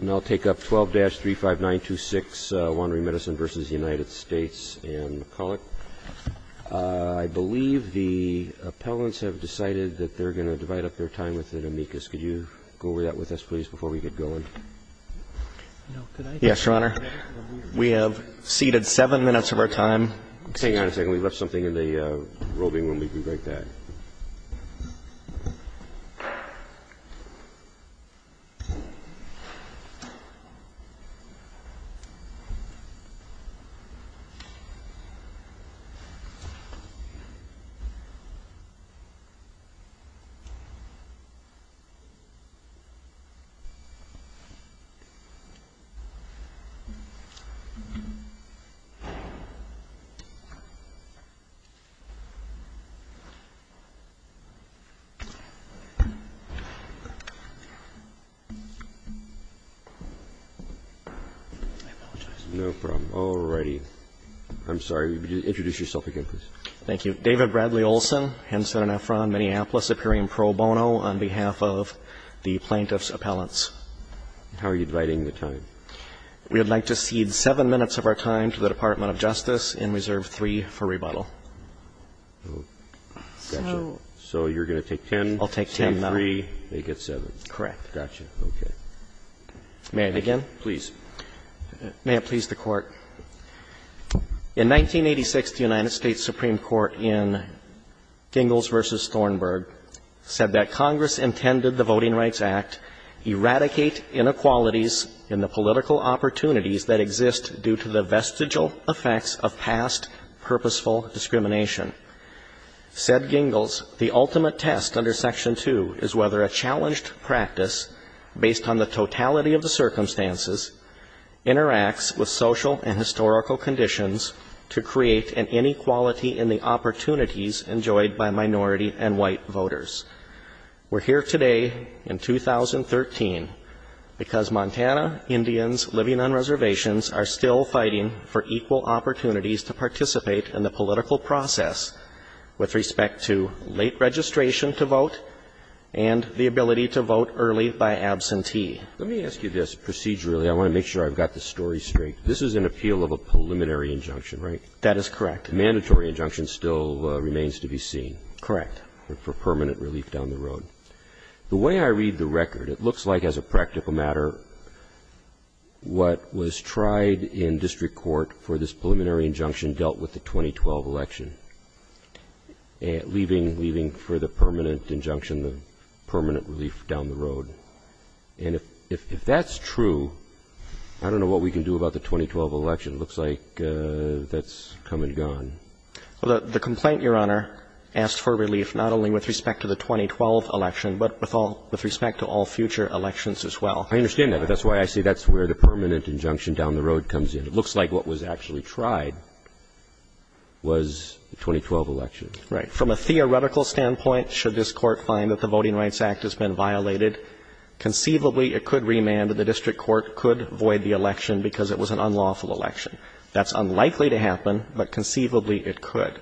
And I'll take up 12-35926 Wandering Medicine v. United States and McCulloch. I believe the appellants have decided that they're going to divide up their time with an amicus. Could you go over that with us, please, before we get going? Yes, Your Honor. We have ceded seven minutes of our time. Hang on a second. We left something in the roving room. We'll be right back. I apologize. No problem. All righty. I'm sorry. Could you introduce yourself again, please? Thank you. David Bradley Olson, Henson & Efron, Minneapolis, superior pro bono, on behalf of the plaintiff's appellants. How are you dividing the time? We would like to cede seven minutes of our time to the Department of Justice in Reserve III for rebuttal. So you're going to take 10? I'll take 10, no. 10-3, they get 7. Correct. Gotcha. Okay. May I begin? Please. May it please the Court. In 1986, the United States Supreme Court in Gingells v. Thornburg said that Congress Act eradicate inequalities in the political opportunities that exist due to the vestigial effects of past purposeful discrimination. Said Gingells, the ultimate test under Section 2 is whether a challenged practice, based on the totality of the circumstances, interacts with social and historical conditions to create an inequality in the political process. I'm here today in 2013 because Montana Indians living on reservations are still fighting for equal opportunities to participate in the political process with respect to late registration to vote and the ability to vote early by absentee. Let me ask you this procedurally. I want to make sure I've got the story straight. This is an appeal of a preliminary injunction, right? That is correct. The mandatory injunction still remains to be seen. Correct. For permanent relief down the road. The way I read the record, it looks like, as a practical matter, what was tried in district court for this preliminary injunction dealt with the 2012 election, leaving for the permanent injunction the permanent relief down the road. And if that's true, I don't know what we can do about the 2012 election. It looks like that's come and gone. The complaint, Your Honor, asked for relief not only with respect to the 2012 election, but with respect to all future elections as well. I understand that, but that's why I say that's where the permanent injunction down the road comes in. It looks like what was actually tried was the 2012 election. Right. From a theoretical standpoint, should this Court find that the Voting Rights Act has been violated, conceivably it could void the election because it was an unlawful election. That's unlikely to happen, but conceivably it could.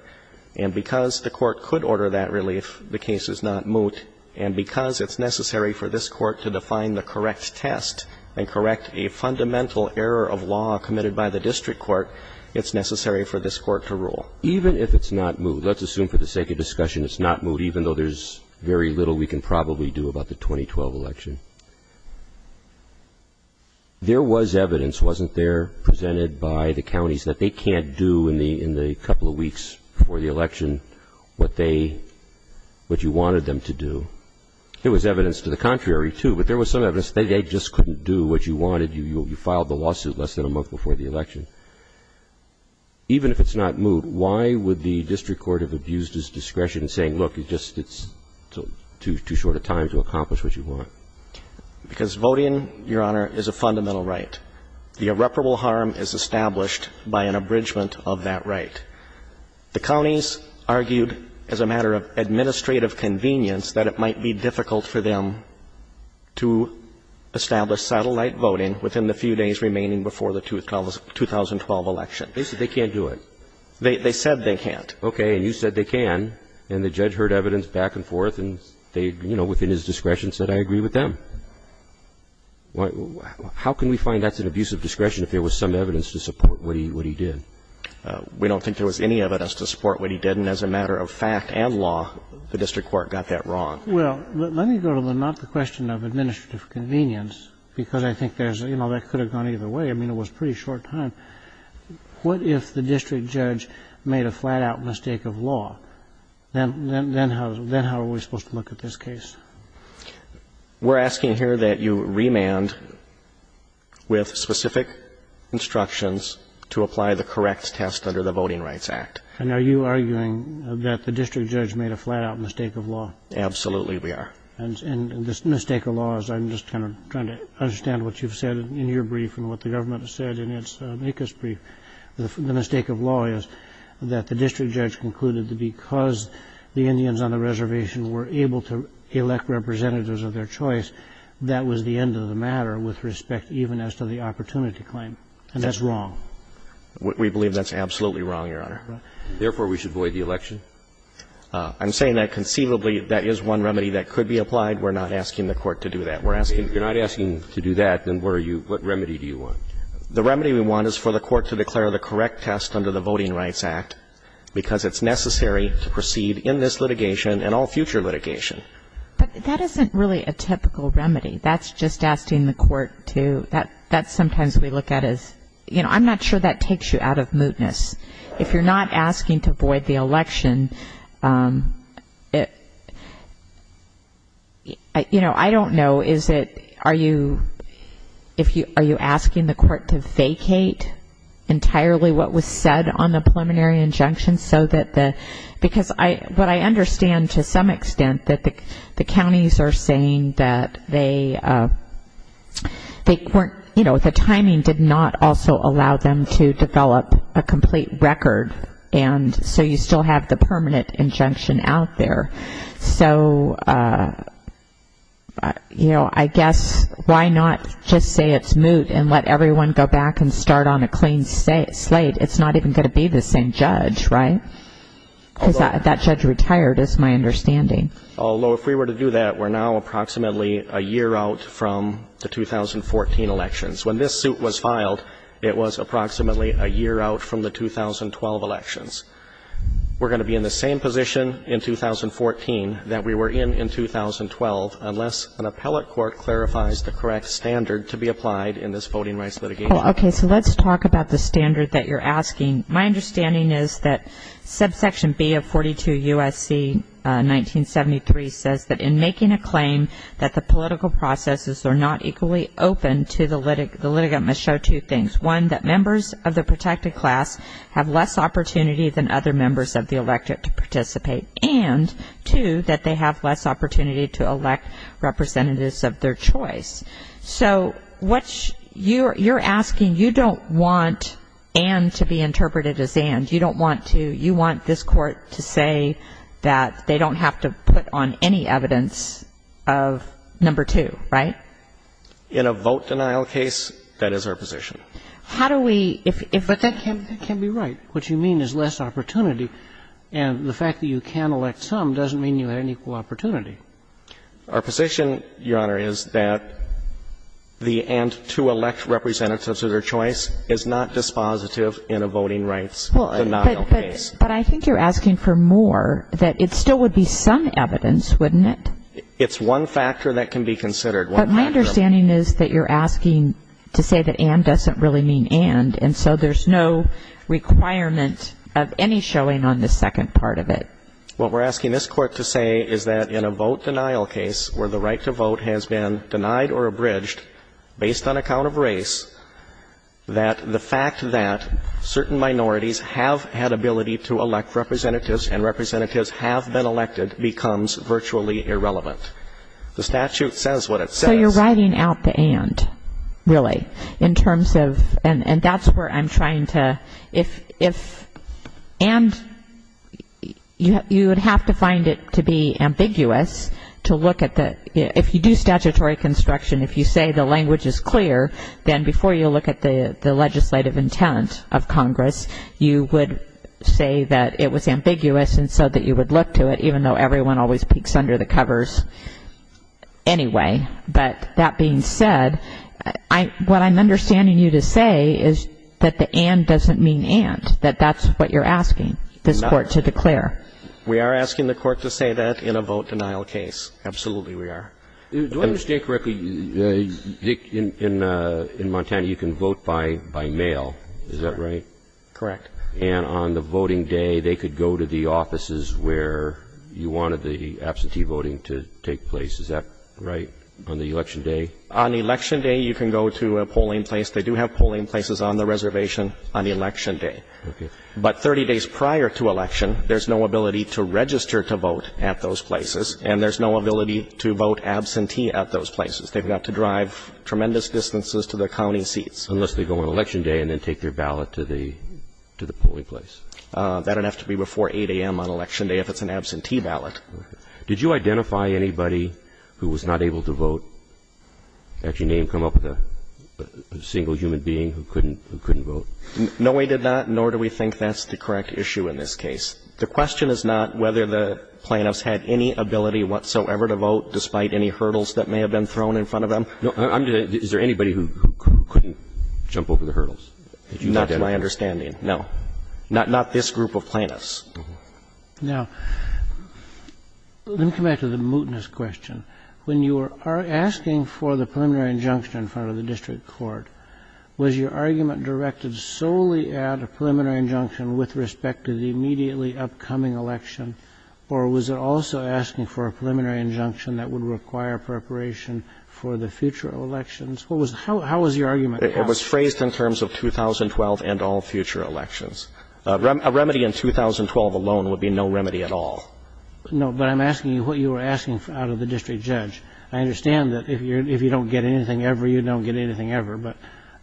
And because the Court could order that relief, the case is not moot. And because it's necessary for this Court to define the correct test and correct a fundamental error of law committed by the district court, it's necessary for this Court to rule. Even if it's not moot, let's assume for the sake of discussion it's not moot, even though there's very little we can probably do about the 2012 election. There was evidence, wasn't there, presented by the counties that they can't do in the couple of weeks before the election what they, what you wanted them to do. There was evidence to the contrary, too, but there was some evidence that they just couldn't do what you wanted. You filed the lawsuit less than a month before the election. Even if it's not moot, why would the district court have used this discretion saying, look, it's just too short a time to accomplish what you want? Because voting, Your Honor, is a fundamental right. The irreparable harm is established by an abridgment of that right. The counties argued as a matter of administrative convenience that it might be difficult for them to establish satellite voting within the few days remaining before the 2012 election. They said they can't do it. They said they can't. Okay. And you said they can. And the judge heard evidence back and forth, and they, you know, within his discretion, said, I agree with them. How can we find that's an abusive discretion if there was some evidence to support what he did? We don't think there was any evidence to support what he did, and as a matter of fact and law, the district court got that wrong. Well, let me go to not the question of administrative convenience, because I think there's, you know, that could have gone either way. I mean, it was a pretty short time. What if the district judge made a flat-out mistake of law? Then how are we supposed to look at this case? We're asking here that you remand with specific instructions to apply the correct test under the Voting Rights Act. And are you arguing that the district judge made a flat-out mistake of law? Absolutely we are. And the mistake of law is I'm just kind of trying to understand what you've said in your brief and what the government has said in its ACUS brief. The mistake of law is that the district judge concluded that because the Indians on the reservation were able to elect representatives of their choice, that was the end of the matter with respect even as to the opportunity claim. And that's wrong. We believe that's absolutely wrong, Your Honor. Therefore, we should void the election? I'm saying that conceivably that is one remedy that could be applied. We're not asking the Court to do that. If you're not asking to do that, then what are you – what remedy do you want? The remedy we want is for the Court to declare the correct test under the Voting Rights Act, because it's necessary to proceed in this litigation and all future litigation. But that isn't really a typical remedy. That's just asking the Court to – that's sometimes we look at as, you know, I'm not sure that takes you out of mootness. If you're not asking to void the election, you know, I don't know, is it – are you – are you asking the Court to vacate entirely what was said on the preliminary injunction so that the – because what I understand to some extent, that the counties are saying that they weren't – you know, the timing did not also allow them to develop a complete record, and so you still have the permanent injunction out there. So, you know, I guess why not just say it's moot and let everyone go back and start on a clean slate? It's not even going to be the same judge, right? Because that judge retired, is my understanding. Although if we were to do that, we're now approximately a year out from the 2014 elections. When this suit was filed, it was approximately a year out from the 2012 elections. We're going to be in the same position in 2014 that we were in in 2012 unless an appellate court clarifies the correct standard to be applied in this voting rights litigation. Well, okay, so let's talk about the standard that you're asking. My understanding is that subsection B of 42 U.S.C. 1973 says that in making a claim that the political processes are not equally open to the litigant must show two things. One, that members of the protected class have less opportunity than other members of the electorate to participate, and two, that they have less opportunity to elect representatives of their choice. So what's you're asking, you don't want and to be interpreted as and. You don't want to. You want this Court to say that they don't have to put on any evidence of number two, right? In a vote denial case, that is our position. How do we – but that can be right. What you mean is less opportunity, and the fact that you can elect some doesn't mean you have equal opportunity. Our position, Your Honor, is that the and to elect representatives of their choice is not dispositive in a voting rights denial case. But I think you're asking for more, that it still would be some evidence, wouldn't it? It's one factor that can be considered. But my understanding is that you're asking to say that and doesn't really mean and, and so there's no requirement of any showing on the second part of it. What we're asking this Court to say is that in a vote denial case where the right to vote has been denied or abridged based on account of race, that the fact that certain minorities have had ability to elect representatives and representatives have been elected becomes virtually irrelevant. The statute says what it says. So you're writing out the and, really, in terms of – and that's where I'm trying to – if and, you know, you would have to find it to be ambiguous to look at the – if you do statutory construction, if you say the language is clear, then before you look at the legislative intent of Congress, you would say that it was ambiguous and so that you would look to it, even though everyone always peeks under the covers anyway. But that being said, what I'm understanding you to say is that the and doesn't mean and, that that's what you're asking this Court to say. We are asking the Court to say that in a vote denial case. Absolutely we are. Do I understand correctly, Dick, in Montana you can vote by mail, is that right? Correct. And on the voting day they could go to the offices where you wanted the absentee voting to take place, is that right? On the election day? On election day you can go to a polling place. They do have polling places on the reservation on election day. Okay. But 30 days prior to election, there's no ability to register to vote at those places, and there's no ability to vote absentee at those places. They've got to drive tremendous distances to their county seats. Unless they go on election day and then take their ballot to the polling place. That would have to be before 8 a.m. on election day if it's an absentee ballot. Did you identify anybody who was not able to vote, actually name, come up with a single human being who couldn't vote? No, we did not, nor do we think that's the correct issue in this case. The question is not whether the plaintiffs had any ability whatsoever to vote despite any hurdles that may have been thrown in front of them. Is there anybody who couldn't jump over the hurdles? Not to my understanding, no. Not this group of plaintiffs. Now, let me come back to the mootness question. When you are asking for the preliminary injunction in front of the district court, was your argument directed solely at a preliminary injunction with respect to the immediately upcoming election, or was it also asking for a preliminary injunction that would require preparation for the future elections? How was your argument asked? It was phrased in terms of 2012 and all future elections. A remedy in 2012 alone would be no remedy at all. No, but I'm asking you what you were asking out of the district judge. I understand that if you don't get anything ever, you don't get anything ever, but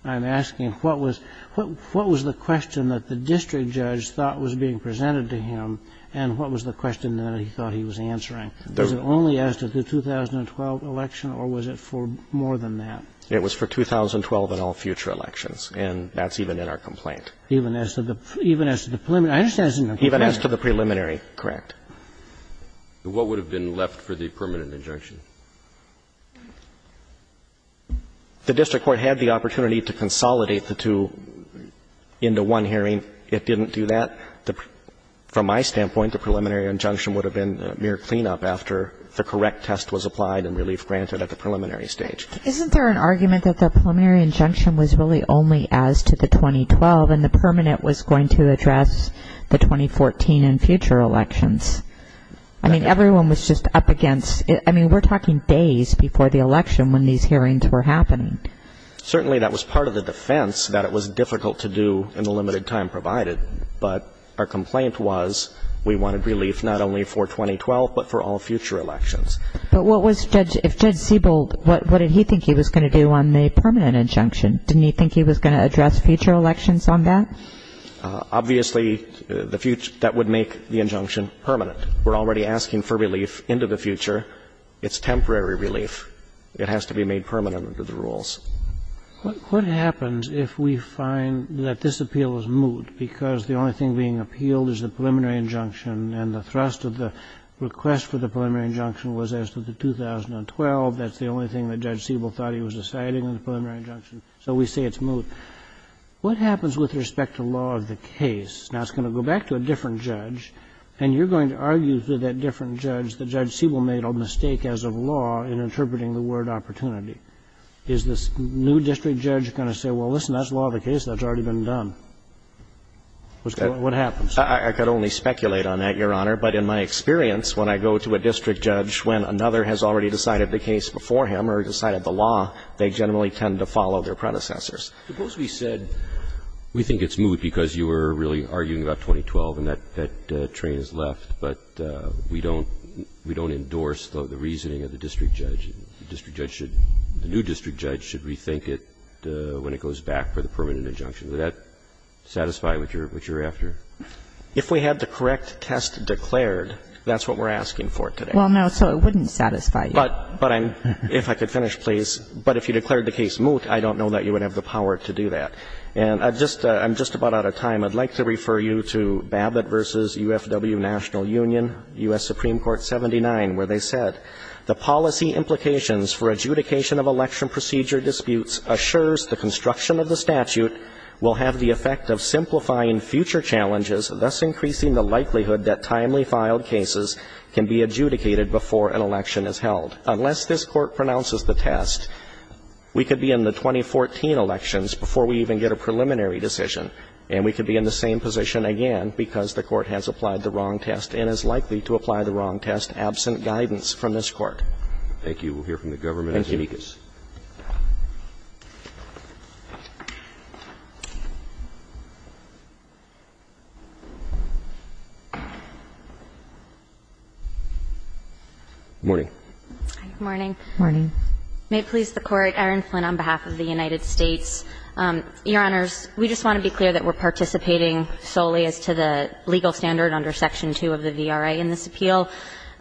I'm asking what was the question that the district judge thought was being presented to him, and what was the question that he thought he was answering? Was it only as to the 2012 election, or was it for more than that? It was for 2012 and all future elections, and that's even in our complaint. Even as to the preliminary? I understand it's in the complaint. Even as to the preliminary, correct. What would have been left for the permanent injunction? The district court had the opportunity to consolidate the two into one hearing. It didn't do that. From my standpoint, the preliminary injunction would have been mere cleanup after the correct test was applied and relief granted at the preliminary stage. Isn't there an argument that the preliminary injunction was really only as to the 2012 and the permanent was going to address the 2014 and future elections? I mean, everyone was just up against it. I mean, we're talking days before the election when these hearings were happening. Certainly that was part of the defense that it was difficult to do in the limited time provided, but our complaint was we wanted relief not only for 2012, but for all future elections. But what was Judge Siebold, what did he think he was going to do on the permanent injunction? Didn't he think he was going to address future elections on that? Obviously, the future that would make the injunction permanent. We're already asking for relief into the future. It's temporary relief. It has to be made permanent under the rules. What happens if we find that this appeal is moot because the only thing being appealed is the preliminary injunction and the thrust of the request for the preliminary injunction was as to the 2012? That's the only thing that Judge Siebold thought he was deciding on the preliminary injunction. So we say it's moot. What happens with respect to law of the case? Now, it's going to go back to a different judge, and you're going to argue to that different judge that Judge Siebold made a mistake as of law in interpreting the word opportunity. Is this new district judge going to say, well, listen, that's law of the case. That's already been done? What happens? I could only speculate on that, Your Honor. But in my experience, when I go to a district judge when another has already decided the case before him or decided the law, they generally tend to follow their predecessors. Suppose we said we think it's moot because you were really arguing about 2012 and that train has left, but we don't endorse the reasoning of the district judge. The district judge should – the new district judge should rethink it when it goes back for the permanent injunction. Would that satisfy what you're after? If we had the correct test declared, that's what we're asking for today. Well, no, so it wouldn't satisfy you. But I'm – if I could finish, please. But if you declared the case moot, I don't know that you would have the power to do that. And I just – I'm just about out of time. I'd like to refer you to Babbitt v. UFW National Union, U.S. Supreme Court 79, where they said, The policy implications for adjudication of election procedure disputes assures the construction of the statute will have the effect of simplifying future challenges, thus increasing the likelihood that timely filed cases can be adjudicated before an election is held. Unless this Court pronounces the test, we could be in the 2014 elections before we even get a preliminary decision, and we could be in the same position again because the Court has applied the wrong test and is likely to apply the wrong test absent guidance from this Court. Thank you. We'll hear from the government. Thank you. Ms. Zuniga. Good morning. Good morning. Morning. May it please the Court, Erin Flinn, on behalf of the United States. Your Honors, we just want to be clear that we're participating solely as to the legal standard under Section 2 of the VRA in this appeal.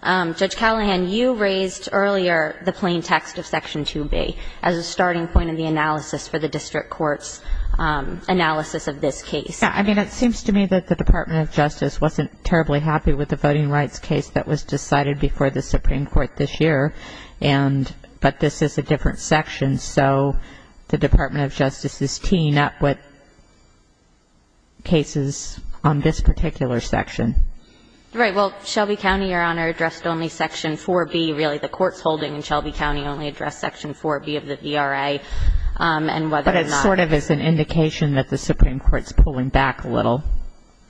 Judge Callahan, you raised earlier the plain text of Section 2B as a starting point in the analysis for the district court's analysis of this case. Yeah. I mean, it seems to me that the Department of Justice wasn't terribly happy with the voting rights case that was decided before the Supreme Court this year, but this is a different section, so the Department of Justice is teeing up with cases on this particular section. Right. Well, Shelby County, Your Honor, addressed only Section 4B. Really, the Court's holding in Shelby County only addressed Section 4B of the VRA, and whether or not it's an indication that the Supreme Court's pulling back a little.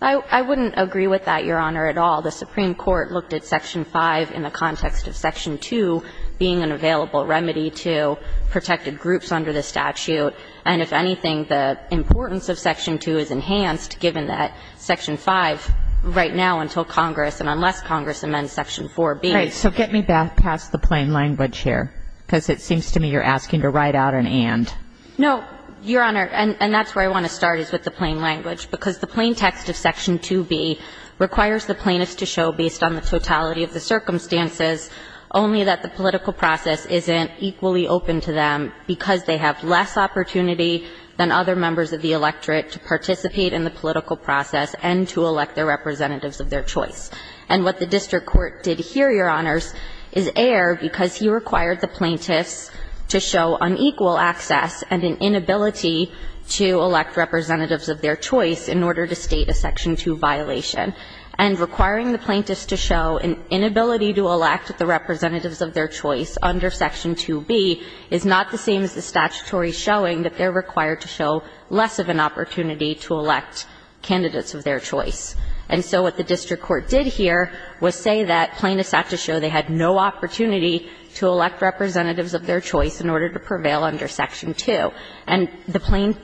I wouldn't agree with that, Your Honor, at all. The Supreme Court looked at Section 5 in the context of Section 2 being an available remedy to protected groups under the statute, and if anything, the importance of Section 2 is enhanced given that Section 5 right now until Congress, and unless Congress amends Section 4B. Right. So get me back past the plain language here, because it seems to me you're asking to write out an and. No, Your Honor, and that's where I want to start, is with the plain language, because the plain text of Section 2B requires the plaintiffs to show, based on the totality of the circumstances, only that the political process isn't equally open to them because they have less opportunity than other members of the electorate to participate in the political process and to elect the representatives of their choice. And what the district court did here, Your Honors, is err because he required the plaintiffs to show unequal access and an inability to elect representatives of their choice in order to state a Section 2 violation. And requiring the plaintiffs to show an inability to elect the representatives of their choice under Section 2B is not the same as the statutory showing that they're required to show less of an opportunity to elect candidates of their choice. And so what the district court did here was say that plaintiffs had to show they had no opportunity to elect representatives of their choice in order to prevail under Section 2. And the plain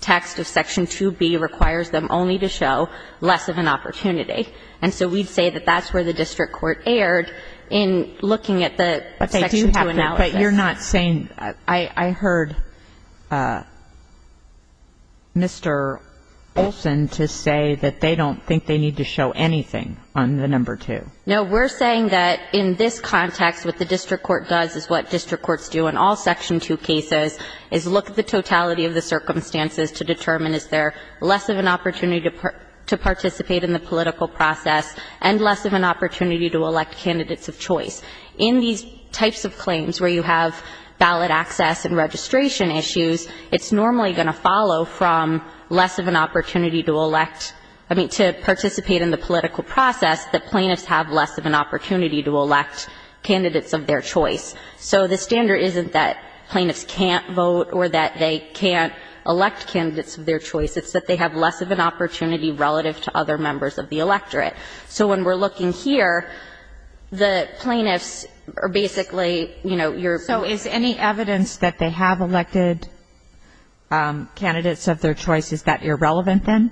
text of Section 2B requires them only to show less of an opportunity. And so we'd say that that's where the district court erred in looking at the Section 2 analysis. But you're not saying — I heard Mr. Olson to say that they don't think they need to show anything on the number 2. No. We're saying that in this context, what the district court does is what district courts do in all Section 2 cases, is look at the totality of the circumstances to determine is there less of an opportunity to participate in the political process and less of an opportunity to elect candidates of choice. In these types of claims where you have ballot access and registration issues, it's normally going to follow from less of an opportunity to elect — I mean, to participate in the political process that plaintiffs have less of an opportunity to elect candidates of their choice. So the standard isn't that plaintiffs can't vote or that they can't elect candidates of their choice. It's that they have less of an opportunity relative to other members of the electorate. So when we're looking here, the plaintiffs are basically, you know, your — So is any evidence that they have elected candidates of their choice, is that irrelevant then?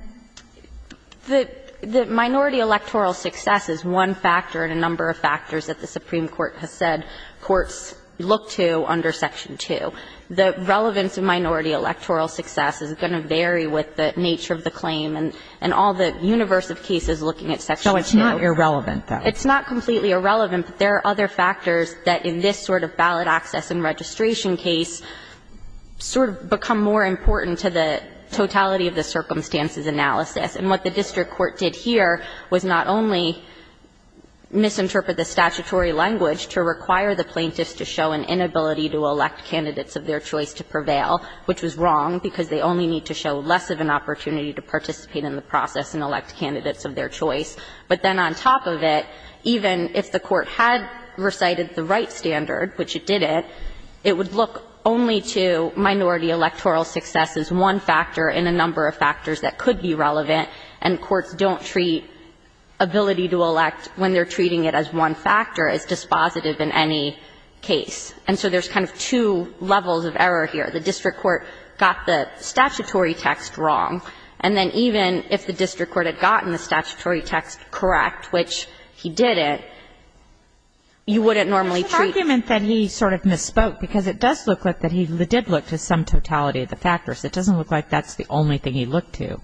The minority electoral success is one factor in a number of factors that the Supreme Court has said courts look to under Section 2. The relevance of minority electoral success is going to vary with the nature of the claim and all the universe of cases looking at Section 2. So it's not irrelevant, then? It's not completely irrelevant, but there are other factors that in this sort of ballot access and registration case sort of become more important to the totality of the circumstances analysis. And what the district court did here was not only misinterpret the statutory language to require the plaintiffs to show an inability to elect candidates of their choice to prevail, which was wrong, because they only need to show less of an opportunity to participate in the process and elect candidates of their choice, but then on top of it, even if the Court had recited the right standard, which it didn't, it would look only to minority electoral success as one factor in a number of factors that could be relevant, and courts don't treat ability to elect when they're treating it as one factor as dispositive in any case. And so there's kind of two levels of error here. The district court got the statutory text wrong. And then even if the district court had gotten the statutory text correct, which he didn't, you wouldn't normally treat it. There's an argument that he sort of misspoke, because it does look like that he did look to some totality of the factors. It doesn't look like that's the only thing he looked to.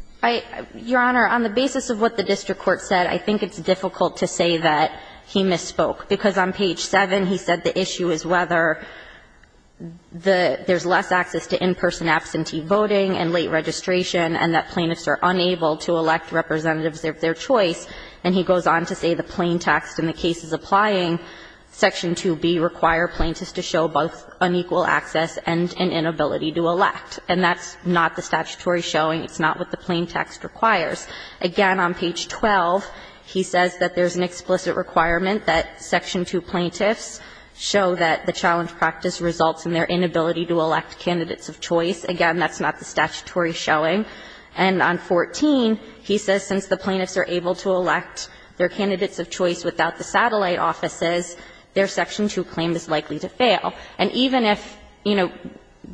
Your Honor, on the basis of what the district court said, I think it's difficult to say that he misspoke, because on page 7, he said the issue is whether there's less access to in-person absentee voting and late registration, and that plaintiffs are unable to elect representatives of their choice. And he goes on to say the plain text in the cases applying, section 2B, require plaintiffs to show both unequal access and an inability to elect. And that's not the statutory showing. It's not what the plain text requires. Again, on page 12, he says that there's an explicit requirement that section 2 plaintiffs show that the challenge practice results in their inability to elect candidates of choice. Again, that's not the statutory showing. And on 14, he says since the plaintiffs are able to elect their candidates And even if, you know,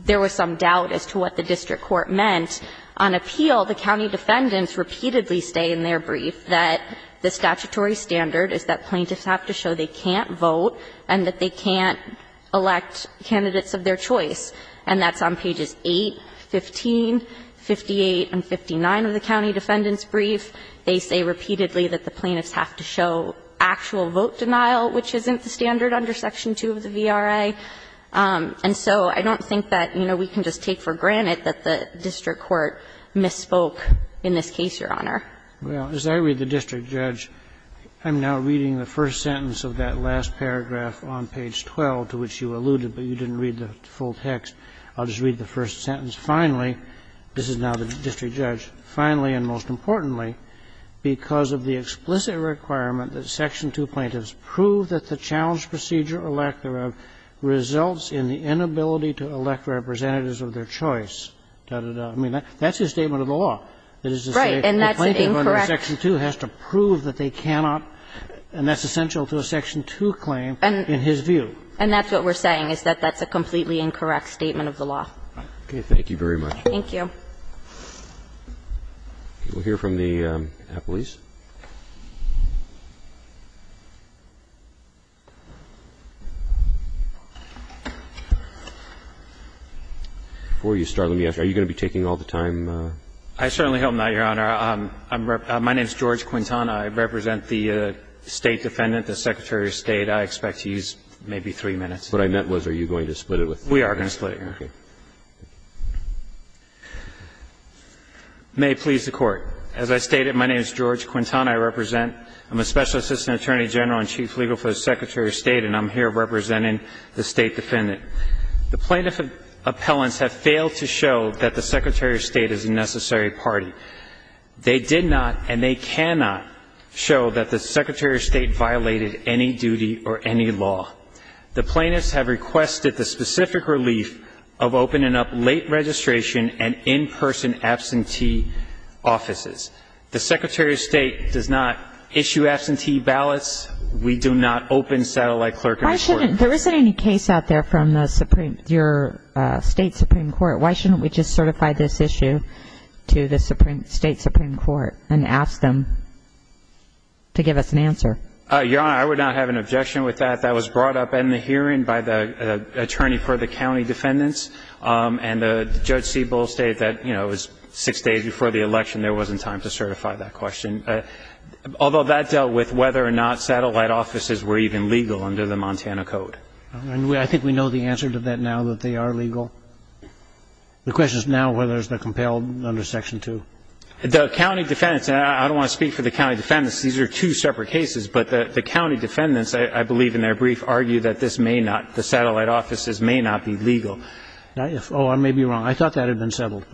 there was some doubt as to what the district court meant, on appeal, the county defendants repeatedly stay in their brief that the statutory standard is that plaintiffs have to show they can't vote and that they can't elect candidates of their choice. And that's on pages 8, 15, 58, and 59 of the county defendant's brief. They say repeatedly that the plaintiffs have to show actual vote denial, which isn't the standard under section 2 of the VRA. And so I don't think that, you know, we can just take for granted that the district court misspoke in this case, Your Honor. Well, as I read the district judge, I'm now reading the first sentence of that last paragraph on page 12 to which you alluded, but you didn't read the full text. I'll just read the first sentence. Finally, this is now the district judge. Finally, and most importantly, because of the explicit requirement that section 2 plaintiffs prove that the challenge procedure or lack thereof results in the inability to elect representatives of their choice, dah, dah, dah. I mean, that's a statement of the law. It is to say a plaintiff under section 2 has to prove that they cannot. And that's essential to a section 2 claim in his view. And that's what we're saying, is that that's a completely incorrect statement of the law. Okay. Thank you very much. Thank you. We'll hear from the appellees. Before you start, let me ask, are you going to be taking all the time? I certainly hope not, Your Honor. My name is George Quintana. I represent the State Defendant, the Secretary of State. I expect to use maybe three minutes. What I meant was, are you going to split it with three minutes? We are going to split it, Your Honor. Okay. May it please the Court. As I stated, my name is George Quintana. I represent, I'm a Special Assistant Attorney General and Chief Legal for the Secretary of State, and I'm here representing the State Defendant. The plaintiff appellants have failed to show that the Secretary of State is a necessary party. They did not and they cannot show that the Secretary of State violated any duty or any law. The plaintiffs have requested the specific relief of opening up late registration and in-person absentee offices. The Secretary of State does not issue absentee ballots. We do not open satellite clerking. Why shouldn't, there isn't any case out there from the Supreme, your State Supreme Court. Why shouldn't we just certify this issue to the Supreme, State Supreme Court and ask them to give us an answer? Your Honor, I would not have an objection with that. That was brought up in the hearing by the attorney for the county defendants and Judge Siebel stated that, you know, it was six days before the election, there wasn't time to certify that question. Although that dealt with whether or not satellite offices were even legal under the Montana Code. I think we know the answer to that now that they are legal. The question is now whether it's the compelled under Section 2. The county defendants, and I don't want to speak for the county defendants, these are two separate cases, but the county defendants, I believe in their brief, argue that this may not, the satellite offices may not be legal. Oh, I may be wrong. I thought that had been settled.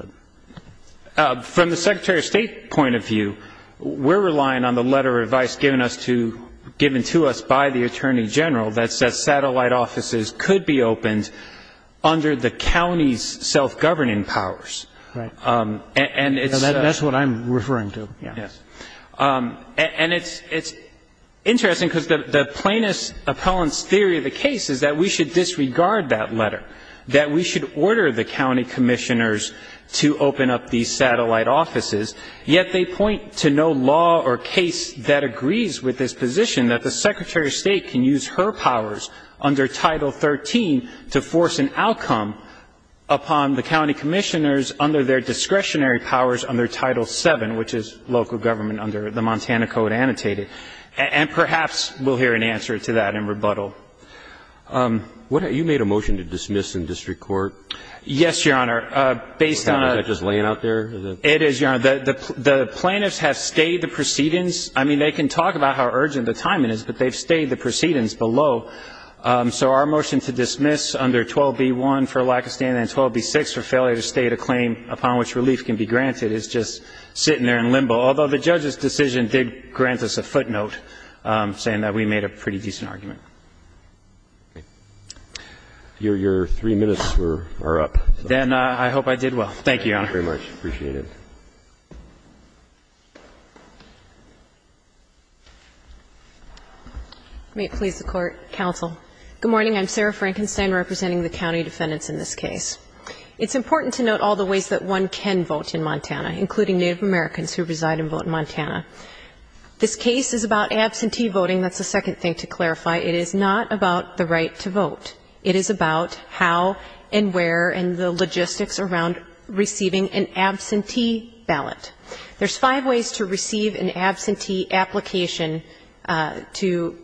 From the Secretary of State point of view, we're relying on the letter of advice given to us by the Attorney General that says satellite offices could be opened under the county's self-governing powers. Right. That's what I'm referring to. Yes. And it's interesting because the plaintiff's appellant's theory of the case is that we should disregard that letter, that we should order the county commissioners to open up these satellite offices, yet they point to no law or case that agrees with this position that the Secretary of State can use her powers under Title 13 to force an outcome upon the county commissioners under their discretionary powers under Title 7, which is local government under the Montana Code annotated. And perhaps we'll hear an answer to that in rebuttal. You made a motion to dismiss in district court. Yes, Your Honor. Based on a ---- Is that just laying out there? It is, Your Honor. The plaintiffs have stayed the proceedings. I mean, they can talk about how urgent the timing is, but they've stayed the proceedings below. So our motion to dismiss under 12B1 for lack of standing and 12B6 for failure to state a claim upon which relief can be granted is just sitting there in limbo, although the judge's decision did grant us a footnote saying that we made a pretty decent argument. Your three minutes are up. Then I hope I did well. Thank you, Your Honor. Thank you very much. I appreciate it. May it please the Court, counsel. Good morning. I'm Sarah Frankenstein representing the county defendants in this case. It's important to note all the ways that one can vote in Montana, including Native Americans who reside and vote in Montana. This case is about absentee voting. That's the second thing to clarify. It is not about the right to vote. It is about how and where and the logistics around receiving an absentee ballot. There's five ways to receive an absentee application to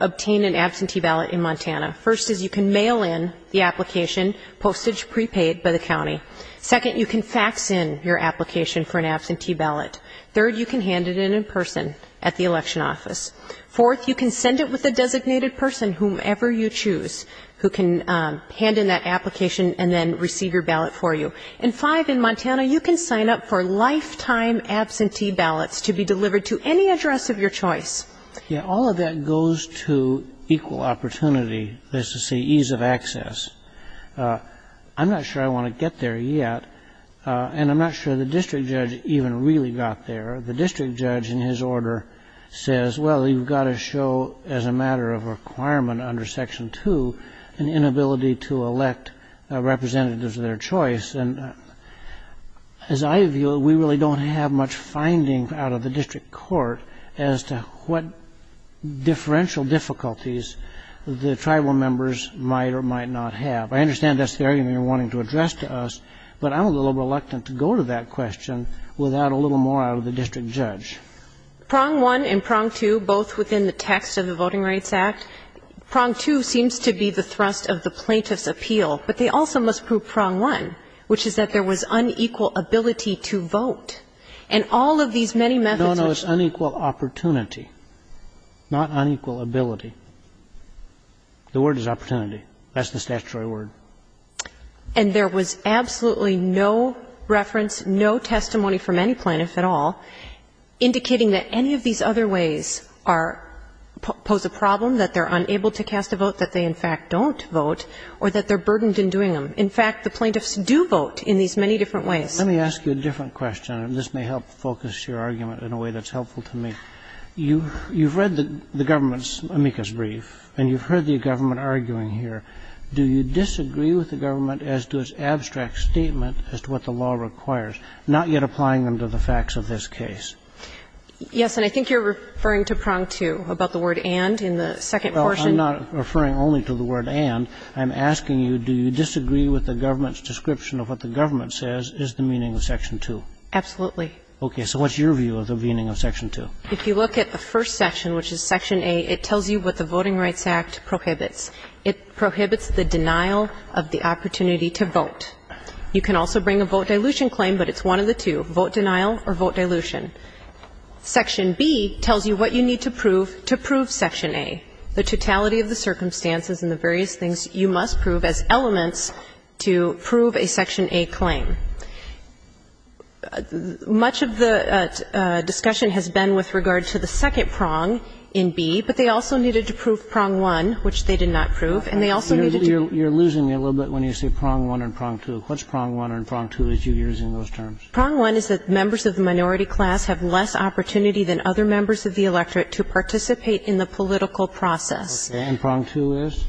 obtain an absentee ballot in Montana. First is you can mail in the application, postage prepaid by the county. Second, you can fax in your application for an absentee ballot. Third, you can hand it in in person at the election office. Fourth, you can send it with a designated person, whomever you choose, who can hand in that application and then receive your ballot for you. And five, in Montana you can sign up for lifetime absentee ballots to be delivered to any address of your choice. Yeah, all of that goes to equal opportunity, that's to say ease of access. I'm not sure I want to get there yet, and I'm not sure the district judge even really got there. The district judge in his order says, well, you've got to show as a matter of requirement under Section 2 an inability to elect representatives of their choice. And as I view it, we really don't have much finding out of the district court as to what differential difficulties the tribal members might or might not have. I understand that's the argument you're wanting to address to us, but I'm a little reluctant to go to that question without a little more out of the district judge. Prong 1 and Prong 2, both within the text of the Voting Rights Act, Prong 2 seems to be the thrust of the plaintiff's appeal, but they also must prove Prong 1, which is that there was unequal ability to vote. And all of these many methods of ---- No, no, it's unequal opportunity, not unequal ability. The word is opportunity. That's the statutory word. And there was absolutely no reference, no testimony from any plaintiff at all indicating that any of these other ways are ---- pose a problem, that they're unable to cast a vote, that they in fact don't vote, or that they're burdened in doing them. In fact, the plaintiffs do vote in these many different ways. Let me ask you a different question, and this may help focus your argument in a way that's helpful to me. You've read the government's amicus brief and you've heard the government arguing here. Do you disagree with the government as to its abstract statement as to what the law requires, not yet applying them to the facts of this case? Yes. And I think you're referring to Prong 2 about the word and in the second portion. Well, I'm not referring only to the word and. I'm asking you, do you disagree with the government's description of what the government says is the meaning of Section 2? Absolutely. Okay. So what's your view of the meaning of Section 2? If you look at the first section, which is Section A, it tells you what the Voting Rights Act prohibits. It prohibits the denial of the opportunity to vote. You can also bring a vote dilution claim, but it's one of the two, vote denial or vote dilution. Section B tells you what you need to prove to prove Section A, the totality of the circumstances and the various things you must prove as elements to prove a Section A claim. Much of the discussion has been with regard to the second prong in B, but they also needed to prove Prong 1, which they did not prove, and they also needed to prove Prong 2. You're losing me a little bit when you say Prong 1 and Prong 2. What's Prong 1 and Prong 2 as you're using those terms? Prong 1 is that members of the minority class have less opportunity than other members of the electorate to participate in the political process. And Prong 2 is?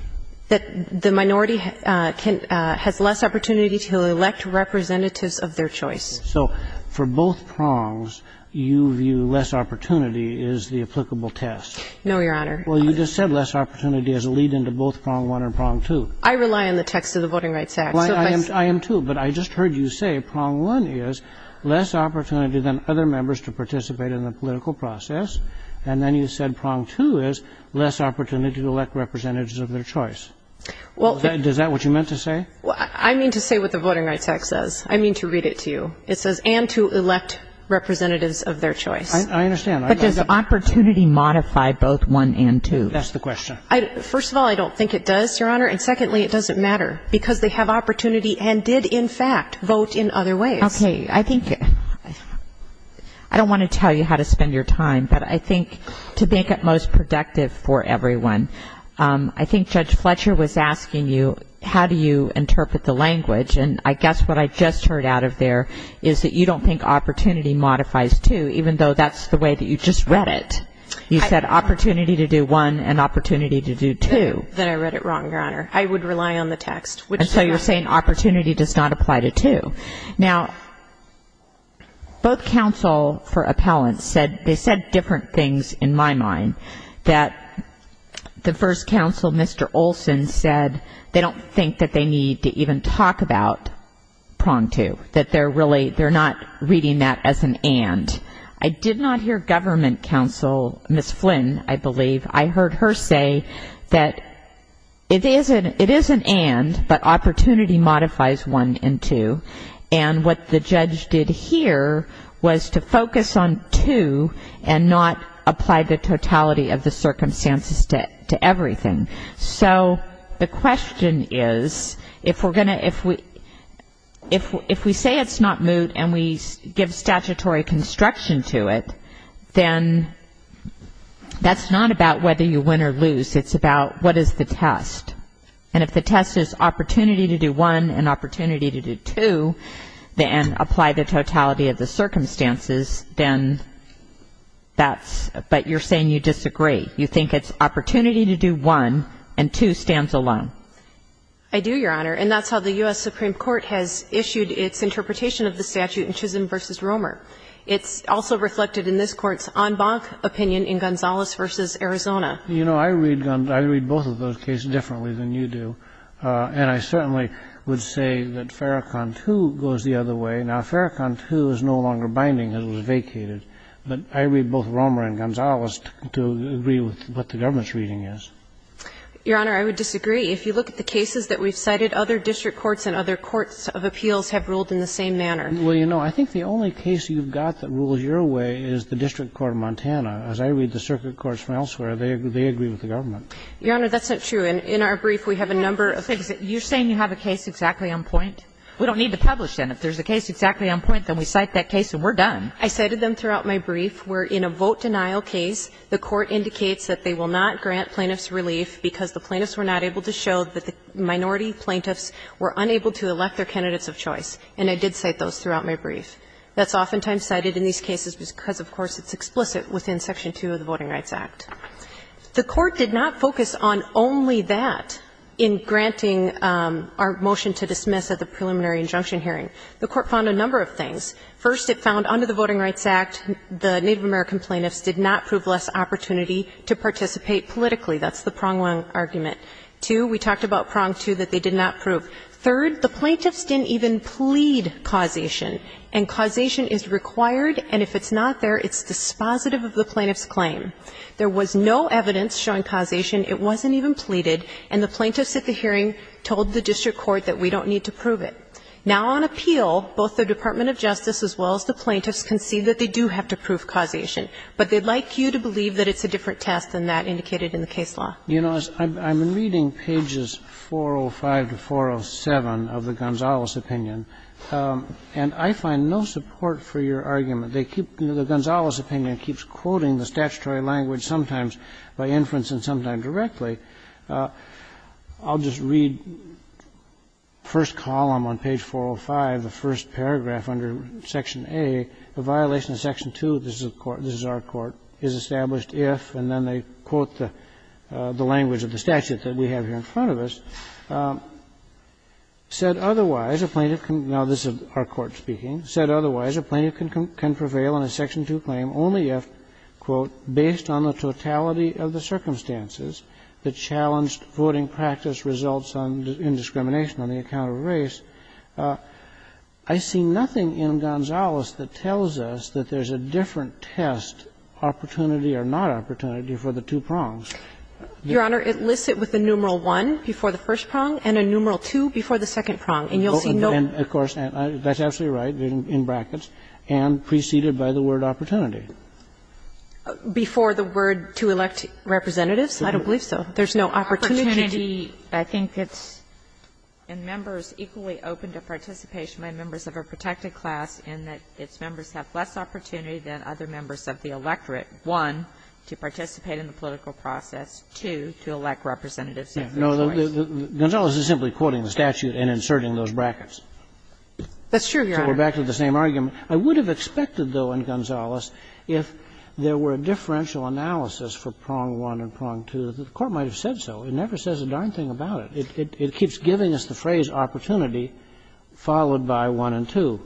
That the minority has less opportunity to elect representatives of their choice. So for both prongs, you view less opportunity as the applicable test. No, Your Honor. Well, you just said less opportunity as a lead-in to both Prong 1 and Prong 2. I rely on the text of the Voting Rights Act. I am, too. But I just heard you say Prong 1 is less opportunity than other members to participate in the political process, and then you said Prong 2 is less opportunity to elect representatives of their choice. Is that what you meant to say? I mean to say what the Voting Rights Act says. I mean to read it to you. It says, and to elect representatives of their choice. I understand. But does opportunity modify both 1 and 2? That's the question. First of all, I don't think it does, Your Honor. And secondly, it doesn't matter. Because they have opportunity and did, in fact, vote in other ways. Okay. I think I don't want to tell you how to spend your time, but I think to make it most productive for everyone, I think Judge Fletcher was asking you how do you interpret the language, and I guess what I just heard out of there is that you don't think opportunity modifies 2, even though that's the way that you just read it. You said opportunity to do 1 and opportunity to do 2. Then I read it wrong, Your Honor. I would rely on the text. And so you're saying opportunity does not apply to 2. Now, both counsel for appellants said different things, in my mind, that the first counsel, Mr. Olson, said they don't think that they need to even talk about prong 2, that they're not reading that as an and. I did not hear government counsel, Ms. Flynn, I believe, I heard her say that it is an and, but opportunity modifies 1 and 2. And what the judge did here was to focus on 2 and not apply the totality of the circumstances to everything. So the question is, if we say it's not moot and we give statutory construction to it, then that's not about whether you win or lose. It's about what is the test. And if the test is opportunity to do 1 and opportunity to do 2, then apply the totality of the circumstances, then that's ‑‑ but you're saying you disagree. You think it's opportunity to do 1 and 2 stands alone. I do, Your Honor, and that's how the U.S. Supreme Court has issued its interpretation of the statute in Chisholm v. Romer. It's also reflected in this Court's en banc opinion in Gonzalez v. Arizona. You know, I read both of those cases differently than you do, and I certainly would say that Farrakhan 2 goes the other way. Now, Farrakhan 2 is no longer binding as it was vacated, but I read both Romer and Gonzalez to agree with what the government's reading is. Your Honor, I would disagree. If you look at the cases that we've cited, other district courts and other courts of appeals have ruled in the same manner. Well, you know, I think the only case you've got that rules your way is the district court of Montana. As I read the circuit courts from elsewhere, they agree with the government. Your Honor, that's not true. In our brief, we have a number of things. You're saying you have a case exactly on point? We don't need to publish, then. If there's a case exactly on point, then we cite that case and we're done. I cited them throughout my brief where in a vote denial case, the Court indicates that they will not grant plaintiffs relief because the plaintiffs were not able to show that the minority plaintiffs were unable to elect their candidates of choice, and I did cite those throughout my brief. That's oftentimes cited in these cases because, of course, it's explicit within Section 2 of the Voting Rights Act. The Court did not focus on only that in granting our motion to dismiss at the preliminary injunction hearing. The Court found a number of things. First, it found under the Voting Rights Act, the Native American plaintiffs did not prove less opportunity to participate politically. That's the prong one argument. Two, we talked about prong two, that they did not prove. Third, the plaintiffs didn't even plead causation, and causation is required, and if it's not there, it's dispositive of the plaintiff's claim. There was no evidence showing causation. It wasn't even pleaded. And the plaintiffs at the hearing told the district court that we don't need to prove it. Now on appeal, both the Department of Justice as well as the plaintiffs can see that they do have to prove causation, but they'd like you to believe that it's a different test than that indicated in the case law. You know, I'm reading pages 405 to 407 of the Gonzales opinion, and I find no support for your argument. They keep the Gonzales opinion keeps quoting the statutory language, sometimes by inference and sometimes directly. I'll just read first column on page 405, the first paragraph under Section A, the violation of Section 2, this is a court, this is our court, is established if, and then they quote the language of the statute that we have here in front of us, said otherwise, a plaintiff can, now this is our court speaking, said otherwise, a plaintiff can prevail on a Section 2 claim only if, quote, based on the totality of the circumstances, the challenged voting practice results on indiscrimination on the account of race. I see nothing in Gonzales that tells us that there's a different test, opportunity or not opportunity, for the two prongs. Your Honor, it lists it with a numeral 1 before the first prong and a numeral 2 before the second prong, and you'll see no. Of course, that's absolutely right, in brackets, and preceded by the word opportunity. Before the word to elect representatives? I don't believe so. There's no opportunity. Opportunity, I think it's in members equally open to participation by members of a protected class in that its members have less opportunity than other members of the electorate, one, to participate in the political process, two, to elect representatives of their choice. No, Gonzales is simply quoting the statute and inserting those brackets. That's true, Your Honor. So we're back to the same argument. I would have expected, though, in Gonzales, if there were a differential analysis for prong 1 and prong 2, the Court might have said so. It never says a darn thing about it. It keeps giving us the phrase opportunity followed by 1 and 2.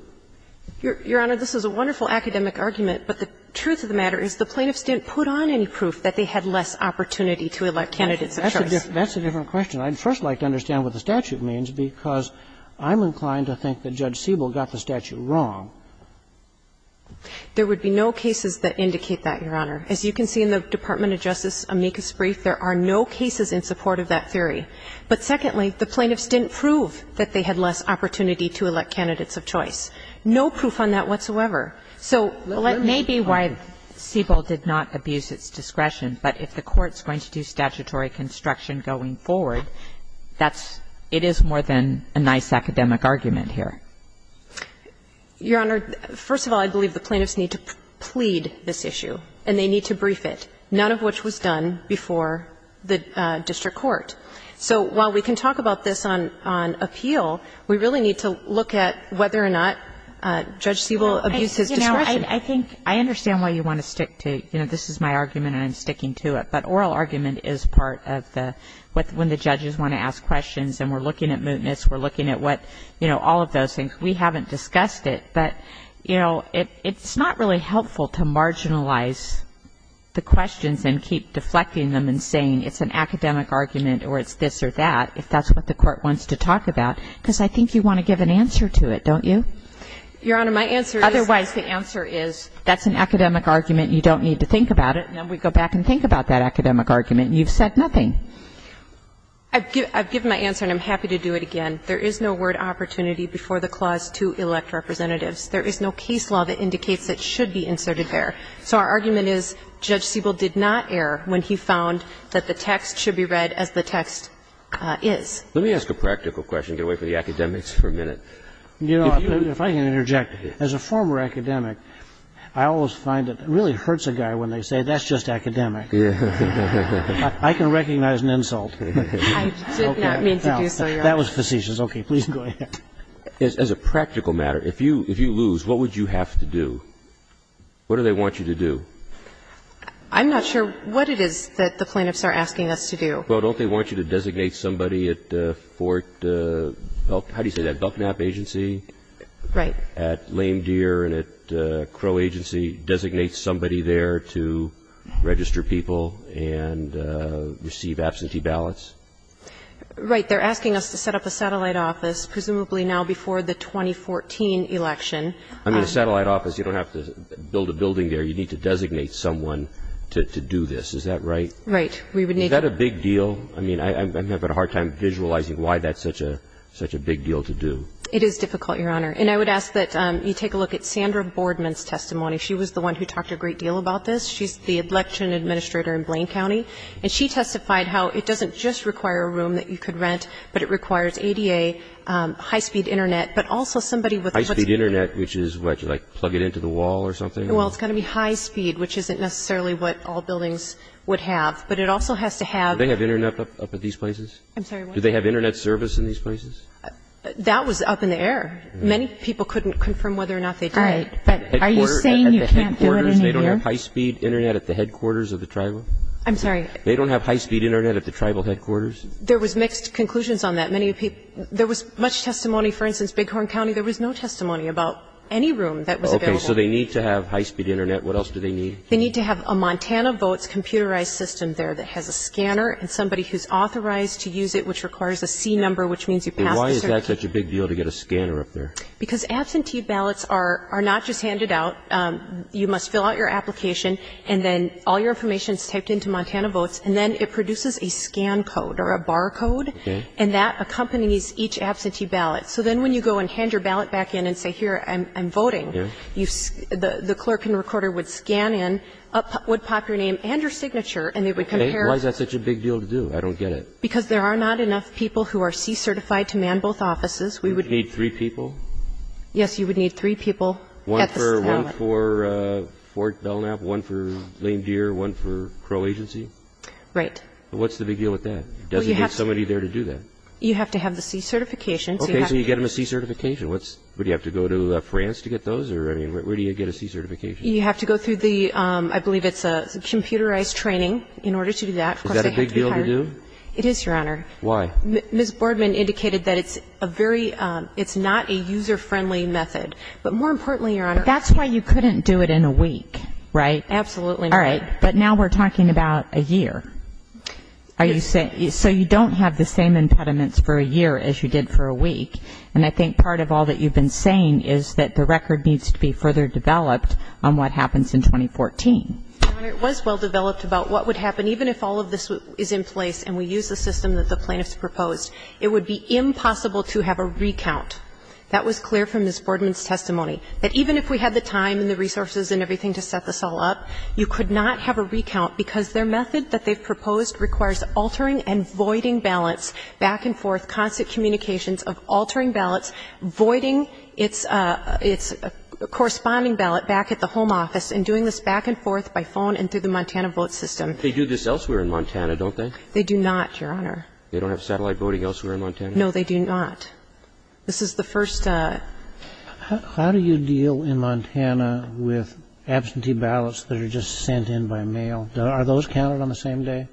Your Honor, this is a wonderful academic argument, but the truth of the matter is the plaintiffs didn't put on any proof that they had less opportunity to elect candidates of choice. That's a different question. I'd first like to understand what the statute means, because I'm inclined to think that Judge Siebel got the statute wrong. There would be no cases that indicate that, Your Honor. As you can see in the Department of Justice amicus brief, there are no cases in support of that theory. But secondly, the plaintiffs didn't prove that they had less opportunity to elect candidates of choice. No proof on that whatsoever. So let me be why Siebel did not abuse its discretion, but if the Court's going to do statutory construction going forward, that's – it is more than a nice academic argument here. Your Honor, first of all, I believe the plaintiffs need to plead this issue, and they need to brief it, none of which was done before the district court. So while we can talk about this on – on appeal, we really need to look at whether or not Judge Siebel abused his discretion. Well, you know, I think – I understand why you want to stick to, you know, this is my argument and I'm sticking to it, but oral argument is part of the – when the judges want to ask questions and we're looking at mootness, we're looking at what – you know, all of those things. We haven't discussed it, but, you know, it's not really helpful to marginalize the questions and keep deflecting them and saying it's an academic argument or it's this or that, if that's what the Court wants to talk about, because I think you want to give an answer to it, don't you? Your Honor, my answer is – Otherwise, the answer is that's an academic argument, you don't need to think about it, and then we go back and think about that academic argument, and you've said nothing. I've given my answer and I'm happy to do it again. There is no word opportunity before the clause to elect representatives. There is no case law that indicates it should be inserted there. So our argument is Judge Siebel did not err when he found that the text should be read as the text is. Let me ask a practical question, get away from the academics for a minute. You know, if I can interject, as a former academic, I always find it really hurts a guy when they say, that's just academic. I can recognize an insult. I did not mean to do so, Your Honor. That was facetious. Okay. Please go ahead. As a practical matter, if you lose, what would you have to do? What do they want you to do? I'm not sure what it is that the plaintiffs are asking us to do. Well, don't they want you to designate somebody at Fort, how do you say that, Buckknap Agency? Right. At Lame Deer and at Crow Agency, designate somebody there to register people and receive absentee ballots? Right. They're asking us to set up a satellite office, presumably now before the 2014 election. I mean, a satellite office, you don't have to build a building there. You need to designate someone to do this. Is that right? Right. Is that a big deal? I mean, I'm having a hard time visualizing why that's such a big deal to do. It is difficult, Your Honor. And I would ask that you take a look at Sandra Boardman's testimony. She was the one who talked a great deal about this. She's the election administrator in Blaine County, and she testified how it doesn't just require a room that you could rent, but it requires ADA, high-speed Internet, but also somebody with what's needed. High-speed Internet, which is what, like plug it into the wall or something? Well, it's got to be high-speed, which isn't necessarily what all buildings would have. But it also has to have --. Do they have Internet up at these places? I'm sorry, what? Do they have Internet service in these places? That was up in the air. Many people couldn't confirm whether or not they did. All right. But are you saying you can't do it in a year? At the headquarters, they don't have high-speed Internet at the headquarters of the Tribal? I'm sorry? They don't have high-speed Internet at the Tribal headquarters? There was mixed conclusions on that. Many people --. There was much testimony, for instance, Bighorn County, there was no testimony about any room that was available. Okay. So they need to have high-speed Internet. What else do they need? They need to have a Montana Votes computerized system there that has a scanner and somebody who's authorized to use it, which requires a C-number, which means you pass the --. Why is that such a big deal to get a scanner up there? Because absentee ballots are not just handed out. You must fill out your application, and then all your information is typed into Montana Votes, and then it produces a scan code or a bar code, and that accompanies each absentee ballot. So then when you go and hand your ballot back in and say, here, I'm voting, the clerk and then up would pop your name and your signature, and they would compare --. Why is that such a big deal to do? I don't get it. Because there are not enough people who are C-certified to man both offices. We would need three people? Yes, you would need three people at the ballot. One for Fort Belknap, one for Lame Deer, one for Crow Agency? Right. What's the big deal with that? It doesn't need somebody there to do that. You have to have the C-certification. Okay. So you get them a C-certification. Would you have to go to France to get those, or, I mean, where do you get a C-certification? You have to go through the, I believe it's a computerized training in order to do that. Is that a big deal to do? It is, Your Honor. Why? Ms. Boardman indicated that it's a very, it's not a user-friendly method. But more importantly, Your Honor --. That's why you couldn't do it in a week, right? Absolutely not. All right. But now we're talking about a year. Are you saying, so you don't have the same impediments for a year as you did for a week. And I think part of all that you've been saying is that the record needs to be further developed on what happens in 2014. Your Honor, it was well-developed about what would happen even if all of this is in place and we use the system that the plaintiffs proposed. It would be impossible to have a recount. That was clear from Ms. Boardman's testimony. That even if we had the time and the resources and everything to set this all up, you could not have a recount because their method that they've proposed requires altering and voiding balance, back and forth, constant communications of altering balance, voiding its corresponding balance back at the home office, and doing this back and forth by phone and through the Montana vote system. They do this elsewhere in Montana, don't they? They do not, Your Honor. They don't have satellite voting elsewhere in Montana? No, they do not. This is the first. How do you deal in Montana with absentee ballots that are just sent in by mail? Are those counted on the same day?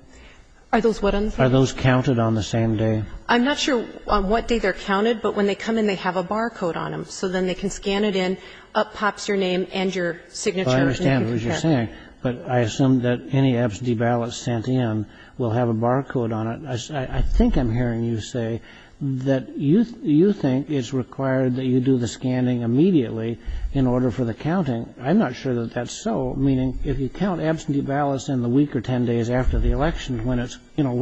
Are those what on the same day? Are those counted on the same day? I'm not sure on what day they're counted, but when they come in, they have a barcode on them, so then they can scan it in. Up pops your name and your signature. Well, I understand what you're saying, but I assume that any absentee ballots sent in will have a barcode on it. I think I'm hearing you say that you think it's required that you do the scanning immediately in order for the counting. I'm not sure that that's so, meaning if you count absentee ballots in the week or ten days after the election when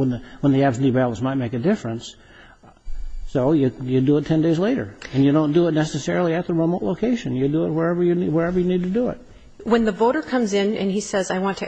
the absentee ballots might make a difference, so you do it ten days later. And you don't do it necessarily at the remote location. You do it wherever you need to do it. When the voter comes in and he says, I want to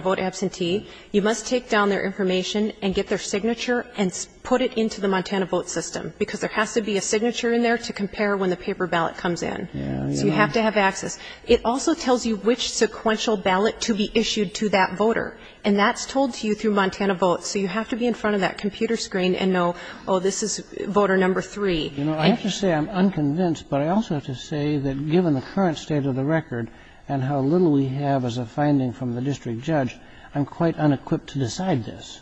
vote absentee, you must take down their information and get their signature and put it into the Montana vote system because there has to be a signature in there to compare when the paper ballot comes in. So you have to have access. It also tells you which sequential ballot to be issued to that voter. And that's told to you through Montana vote. So you have to be in front of that computer screen and know, oh, this is voter number three. You know, I have to say I'm unconvinced, but I also have to say that given the current state of the record and how little we have as a finding from the district judge, I'm quite unequipped to decide this.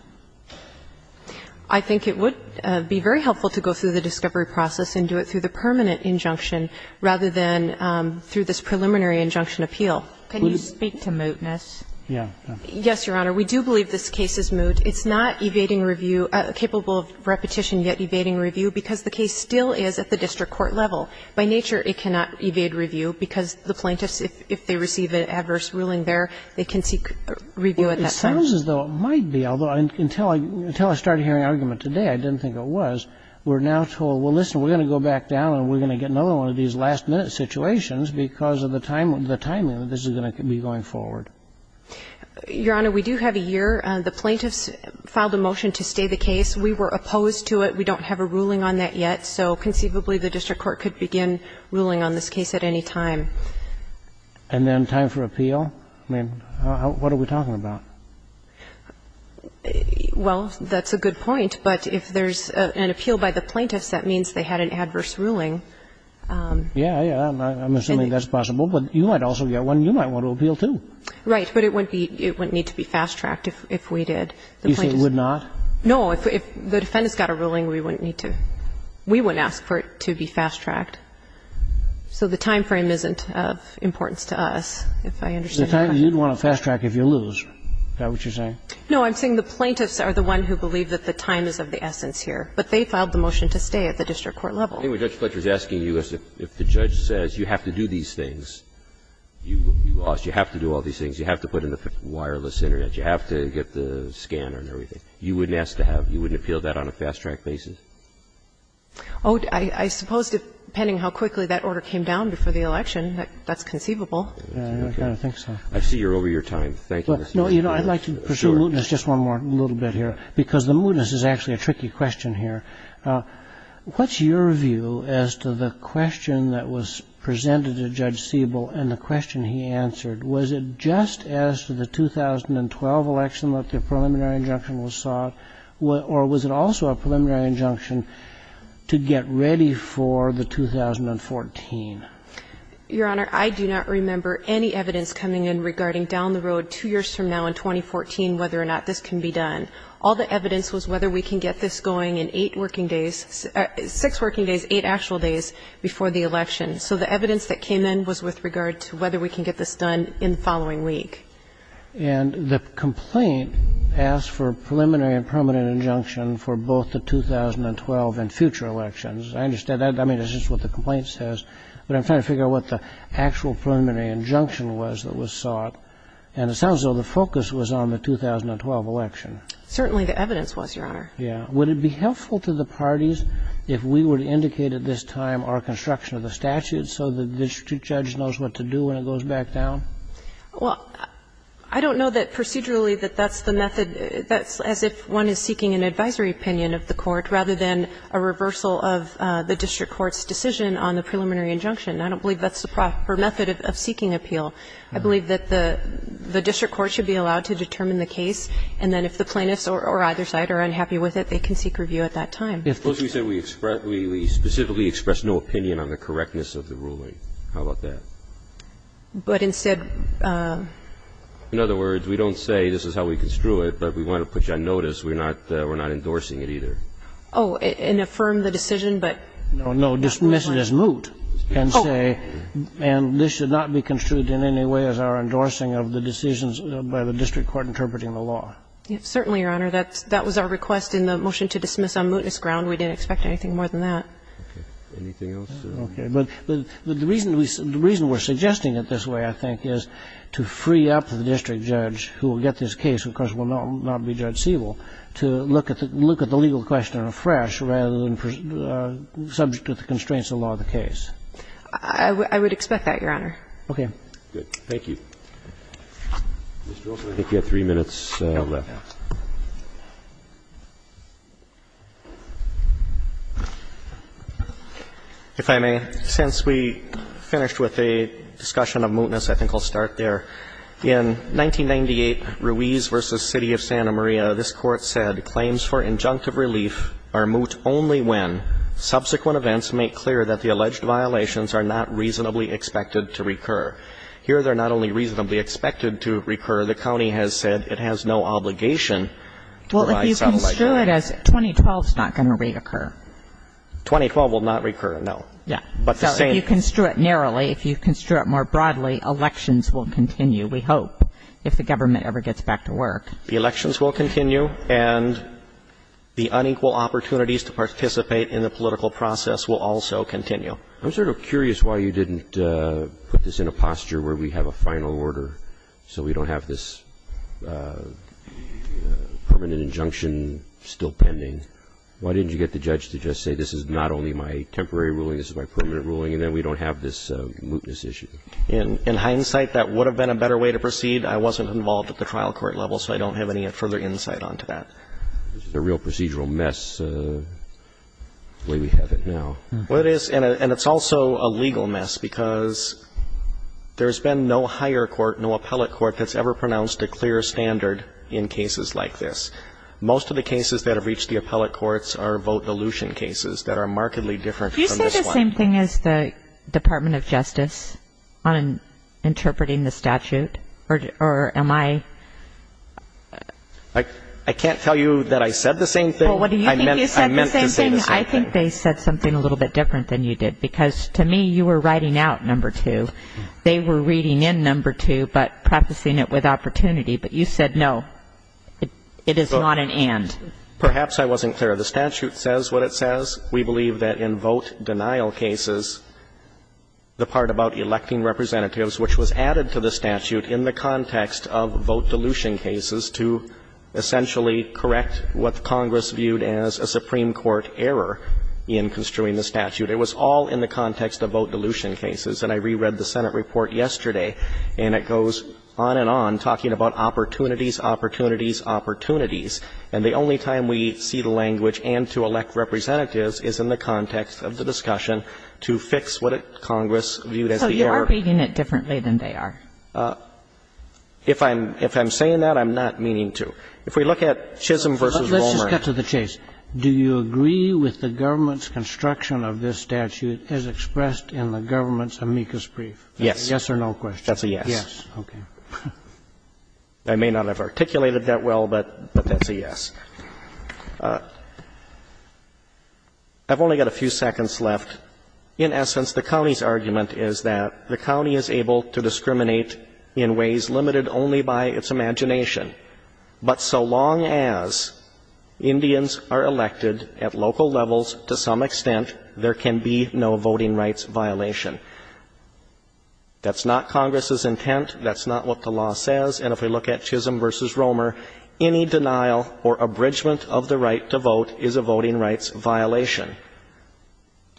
I think it would be very helpful to go through the discovery process and do it through the permanent injunction rather than through this preliminary injunction appeal. Can you speak to mootness? Yeah. Yes, Your Honor. We do believe this case is moot. It's not evading review, capable of repetition, yet evading review because the case still is at the district court level. By nature, it cannot evade review because the plaintiffs, if they receive an adverse ruling there, they can seek review at that point. It sounds as though it might be, although until I started hearing argument today I didn't think it was. We're now told, well, listen, we're going to go back down and we're going to get another one of these last-minute situations because of the timing, the timing that this is going to be going forward. Your Honor, we do have a year. The plaintiffs filed a motion to stay the case. We were opposed to it. We don't have a ruling on that yet. So conceivably the district court could begin ruling on this case at any time. And then time for appeal? I mean, what are we talking about? Well, that's a good point. But if there's an appeal by the plaintiffs, that means they had an adverse ruling. Yeah, yeah. I'm assuming that's possible. But you might also get one you might want to appeal to. Right. But it wouldn't be, it wouldn't need to be fast-tracked if we did. You say it would not? No. If the defendants got a ruling, we wouldn't need to, we wouldn't ask for it to be fast-tracked. So the time frame isn't of importance to us, if I understand correctly. It's the time you'd want to fast-track if you lose. Is that what you're saying? No, I'm saying the plaintiffs are the one who believe that the time is of the essence here. But they filed the motion to stay at the district court level. Anyway, Judge Fletcher is asking you if the judge says you have to do these things, you have to do all these things. You have to put in the wireless Internet. You have to get the scanner and everything. You wouldn't ask to have, you wouldn't appeal that on a fast-track basis? Oh, I suppose depending how quickly that order came down before the election, that's conceivable. I kind of think so. I see you're over your time. Thank you. No, you know, I'd like to pursue mootness just one more little bit here, because the mootness is actually a tricky question here. What's your view as to the question that was presented to Judge Siebel and the question he answered? Was it just as to the 2012 election that the preliminary injunction was sought, or was it also a preliminary injunction to get ready for the 2014? Your Honor, I do not remember any evidence coming in regarding down the road two years from now in 2014 whether or not this can be done. All the evidence was whether we can get this going in eight working days, six working days, eight actual days before the election. So the evidence that came in was with regard to whether we can get this done in the following week. And the complaint asked for preliminary and permanent injunction for both the 2012 and future elections. I understand that. I mean, it's just what the complaint says. But I'm trying to figure out what the actual preliminary injunction was that was sought. And it sounds as though the focus was on the 2012 election. Certainly the evidence was, Your Honor. Yeah. Would it be helpful to the parties if we were to indicate at this time our construction of the statute so the district judge knows what to do when it goes back down? Well, I don't know that procedurally that that's the method. That's as if one is seeking an advisory opinion of the court rather than a reversal of the district court's decision on the preliminary injunction. I don't believe that's the proper method of seeking appeal. I believe that the district court should be allowed to determine the case, and then if the plaintiffs or either side are unhappy with it, they can seek review at that time. Suppose we said we specifically expressed no opinion on the correctness of the ruling. How about that? But instead of ---- In other words, we don't say this is how we construe it, but if we want to put you on notice, we're not endorsing it either. Oh, and affirm the decision, but ---- No, no. Dismiss it as moot and say, and this should not be construed in any way as our endorsing of the decisions by the district court interpreting the law. Certainly, Your Honor. That was our request in the motion to dismiss on mootness ground. We didn't expect anything more than that. Okay. Anything else? Okay. But the reason we're suggesting it this way, I think, is to free up the district judge who will get this case, who of course will not be Judge Siebel, to look at the legal question afresh rather than subject to the constraints of the law of the case. I would expect that, Your Honor. Okay. Good. Thank you. Mr. Olson, I think you have three minutes left. If I may, since we finished with a discussion of mootness, I think I'll start there. In 1998, Ruiz v. City of Santa Maria, this Court said, Claims for injunctive relief are moot only when subsequent events make clear that the alleged violations are not reasonably expected to recur. Here, they're not only reasonably expected to recur. The county has said it has no obligation to provide sounds like that. Well, if you construe it as 2012, it's not going to reoccur. 2012 will not recur. No. Yeah. So if you construe it narrowly, if you construe it more broadly, elections will continue, we hope, if the government ever gets back to work. The elections will continue, and the unequal opportunities to participate in the political process will also continue. I'm sort of curious why you didn't put this in a posture where we have a final order so we don't have this permanent injunction still pending. Why didn't you get the judge to just say this is not only my temporary ruling, this is my permanent ruling, and then we don't have this mootness issue? In hindsight, that would have been a better way to proceed. I wasn't involved at the trial court level, so I don't have any further insight onto that. This is a real procedural mess the way we have it now. Well, it is, and it's also a legal mess because there's been no higher court, no appellate court that's ever pronounced a clear standard in cases like this. Most of the cases that have reached the appellate courts are vote dilution cases that are markedly different from this one. Am I wrong as the Department of Justice on interpreting the statute? Or am I? I can't tell you that I said the same thing. Well, what do you think you said the same thing? I meant to say the same thing. I think they said something a little bit different than you did because, to me, you were writing out number two. They were reading in number two but prefacing it with opportunity. But you said no, it is not an and. Perhaps I wasn't clear. The statute says what it says. We believe that in vote denial cases, the part about electing representatives, which was added to the statute in the context of vote dilution cases to essentially correct what Congress viewed as a Supreme Court error in construing the statute, it was all in the context of vote dilution cases. And I reread the Senate report yesterday, and it goes on and on talking about opportunities, opportunities, opportunities. And the only time we see the language and to elect representatives is in the context of the discussion to fix what Congress viewed as the error. So you are reading it differently than they are? If I'm saying that, I'm not meaning to. If we look at Chisholm v. Romer. Let's just cut to the chase. Do you agree with the government's construction of this statute as expressed in the government's amicus brief? Yes or no question? That's a yes. Okay. I may not have articulated that well, but that's a yes. I've only got a few seconds left. In essence, the county's argument is that the county is able to discriminate in ways limited only by its imagination. But so long as Indians are elected at local levels to some extent, there can be no voting rights violation. That's not Congress's intent. That's not what the law says. And if we look at Chisholm v. Romer, any denial or abridgment of the right to vote is a voting rights violation.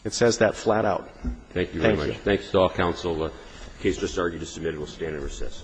It says that flat out. Thank you very much. Thanks to all counsel. The case is just argued and submitted. We'll stand and recess.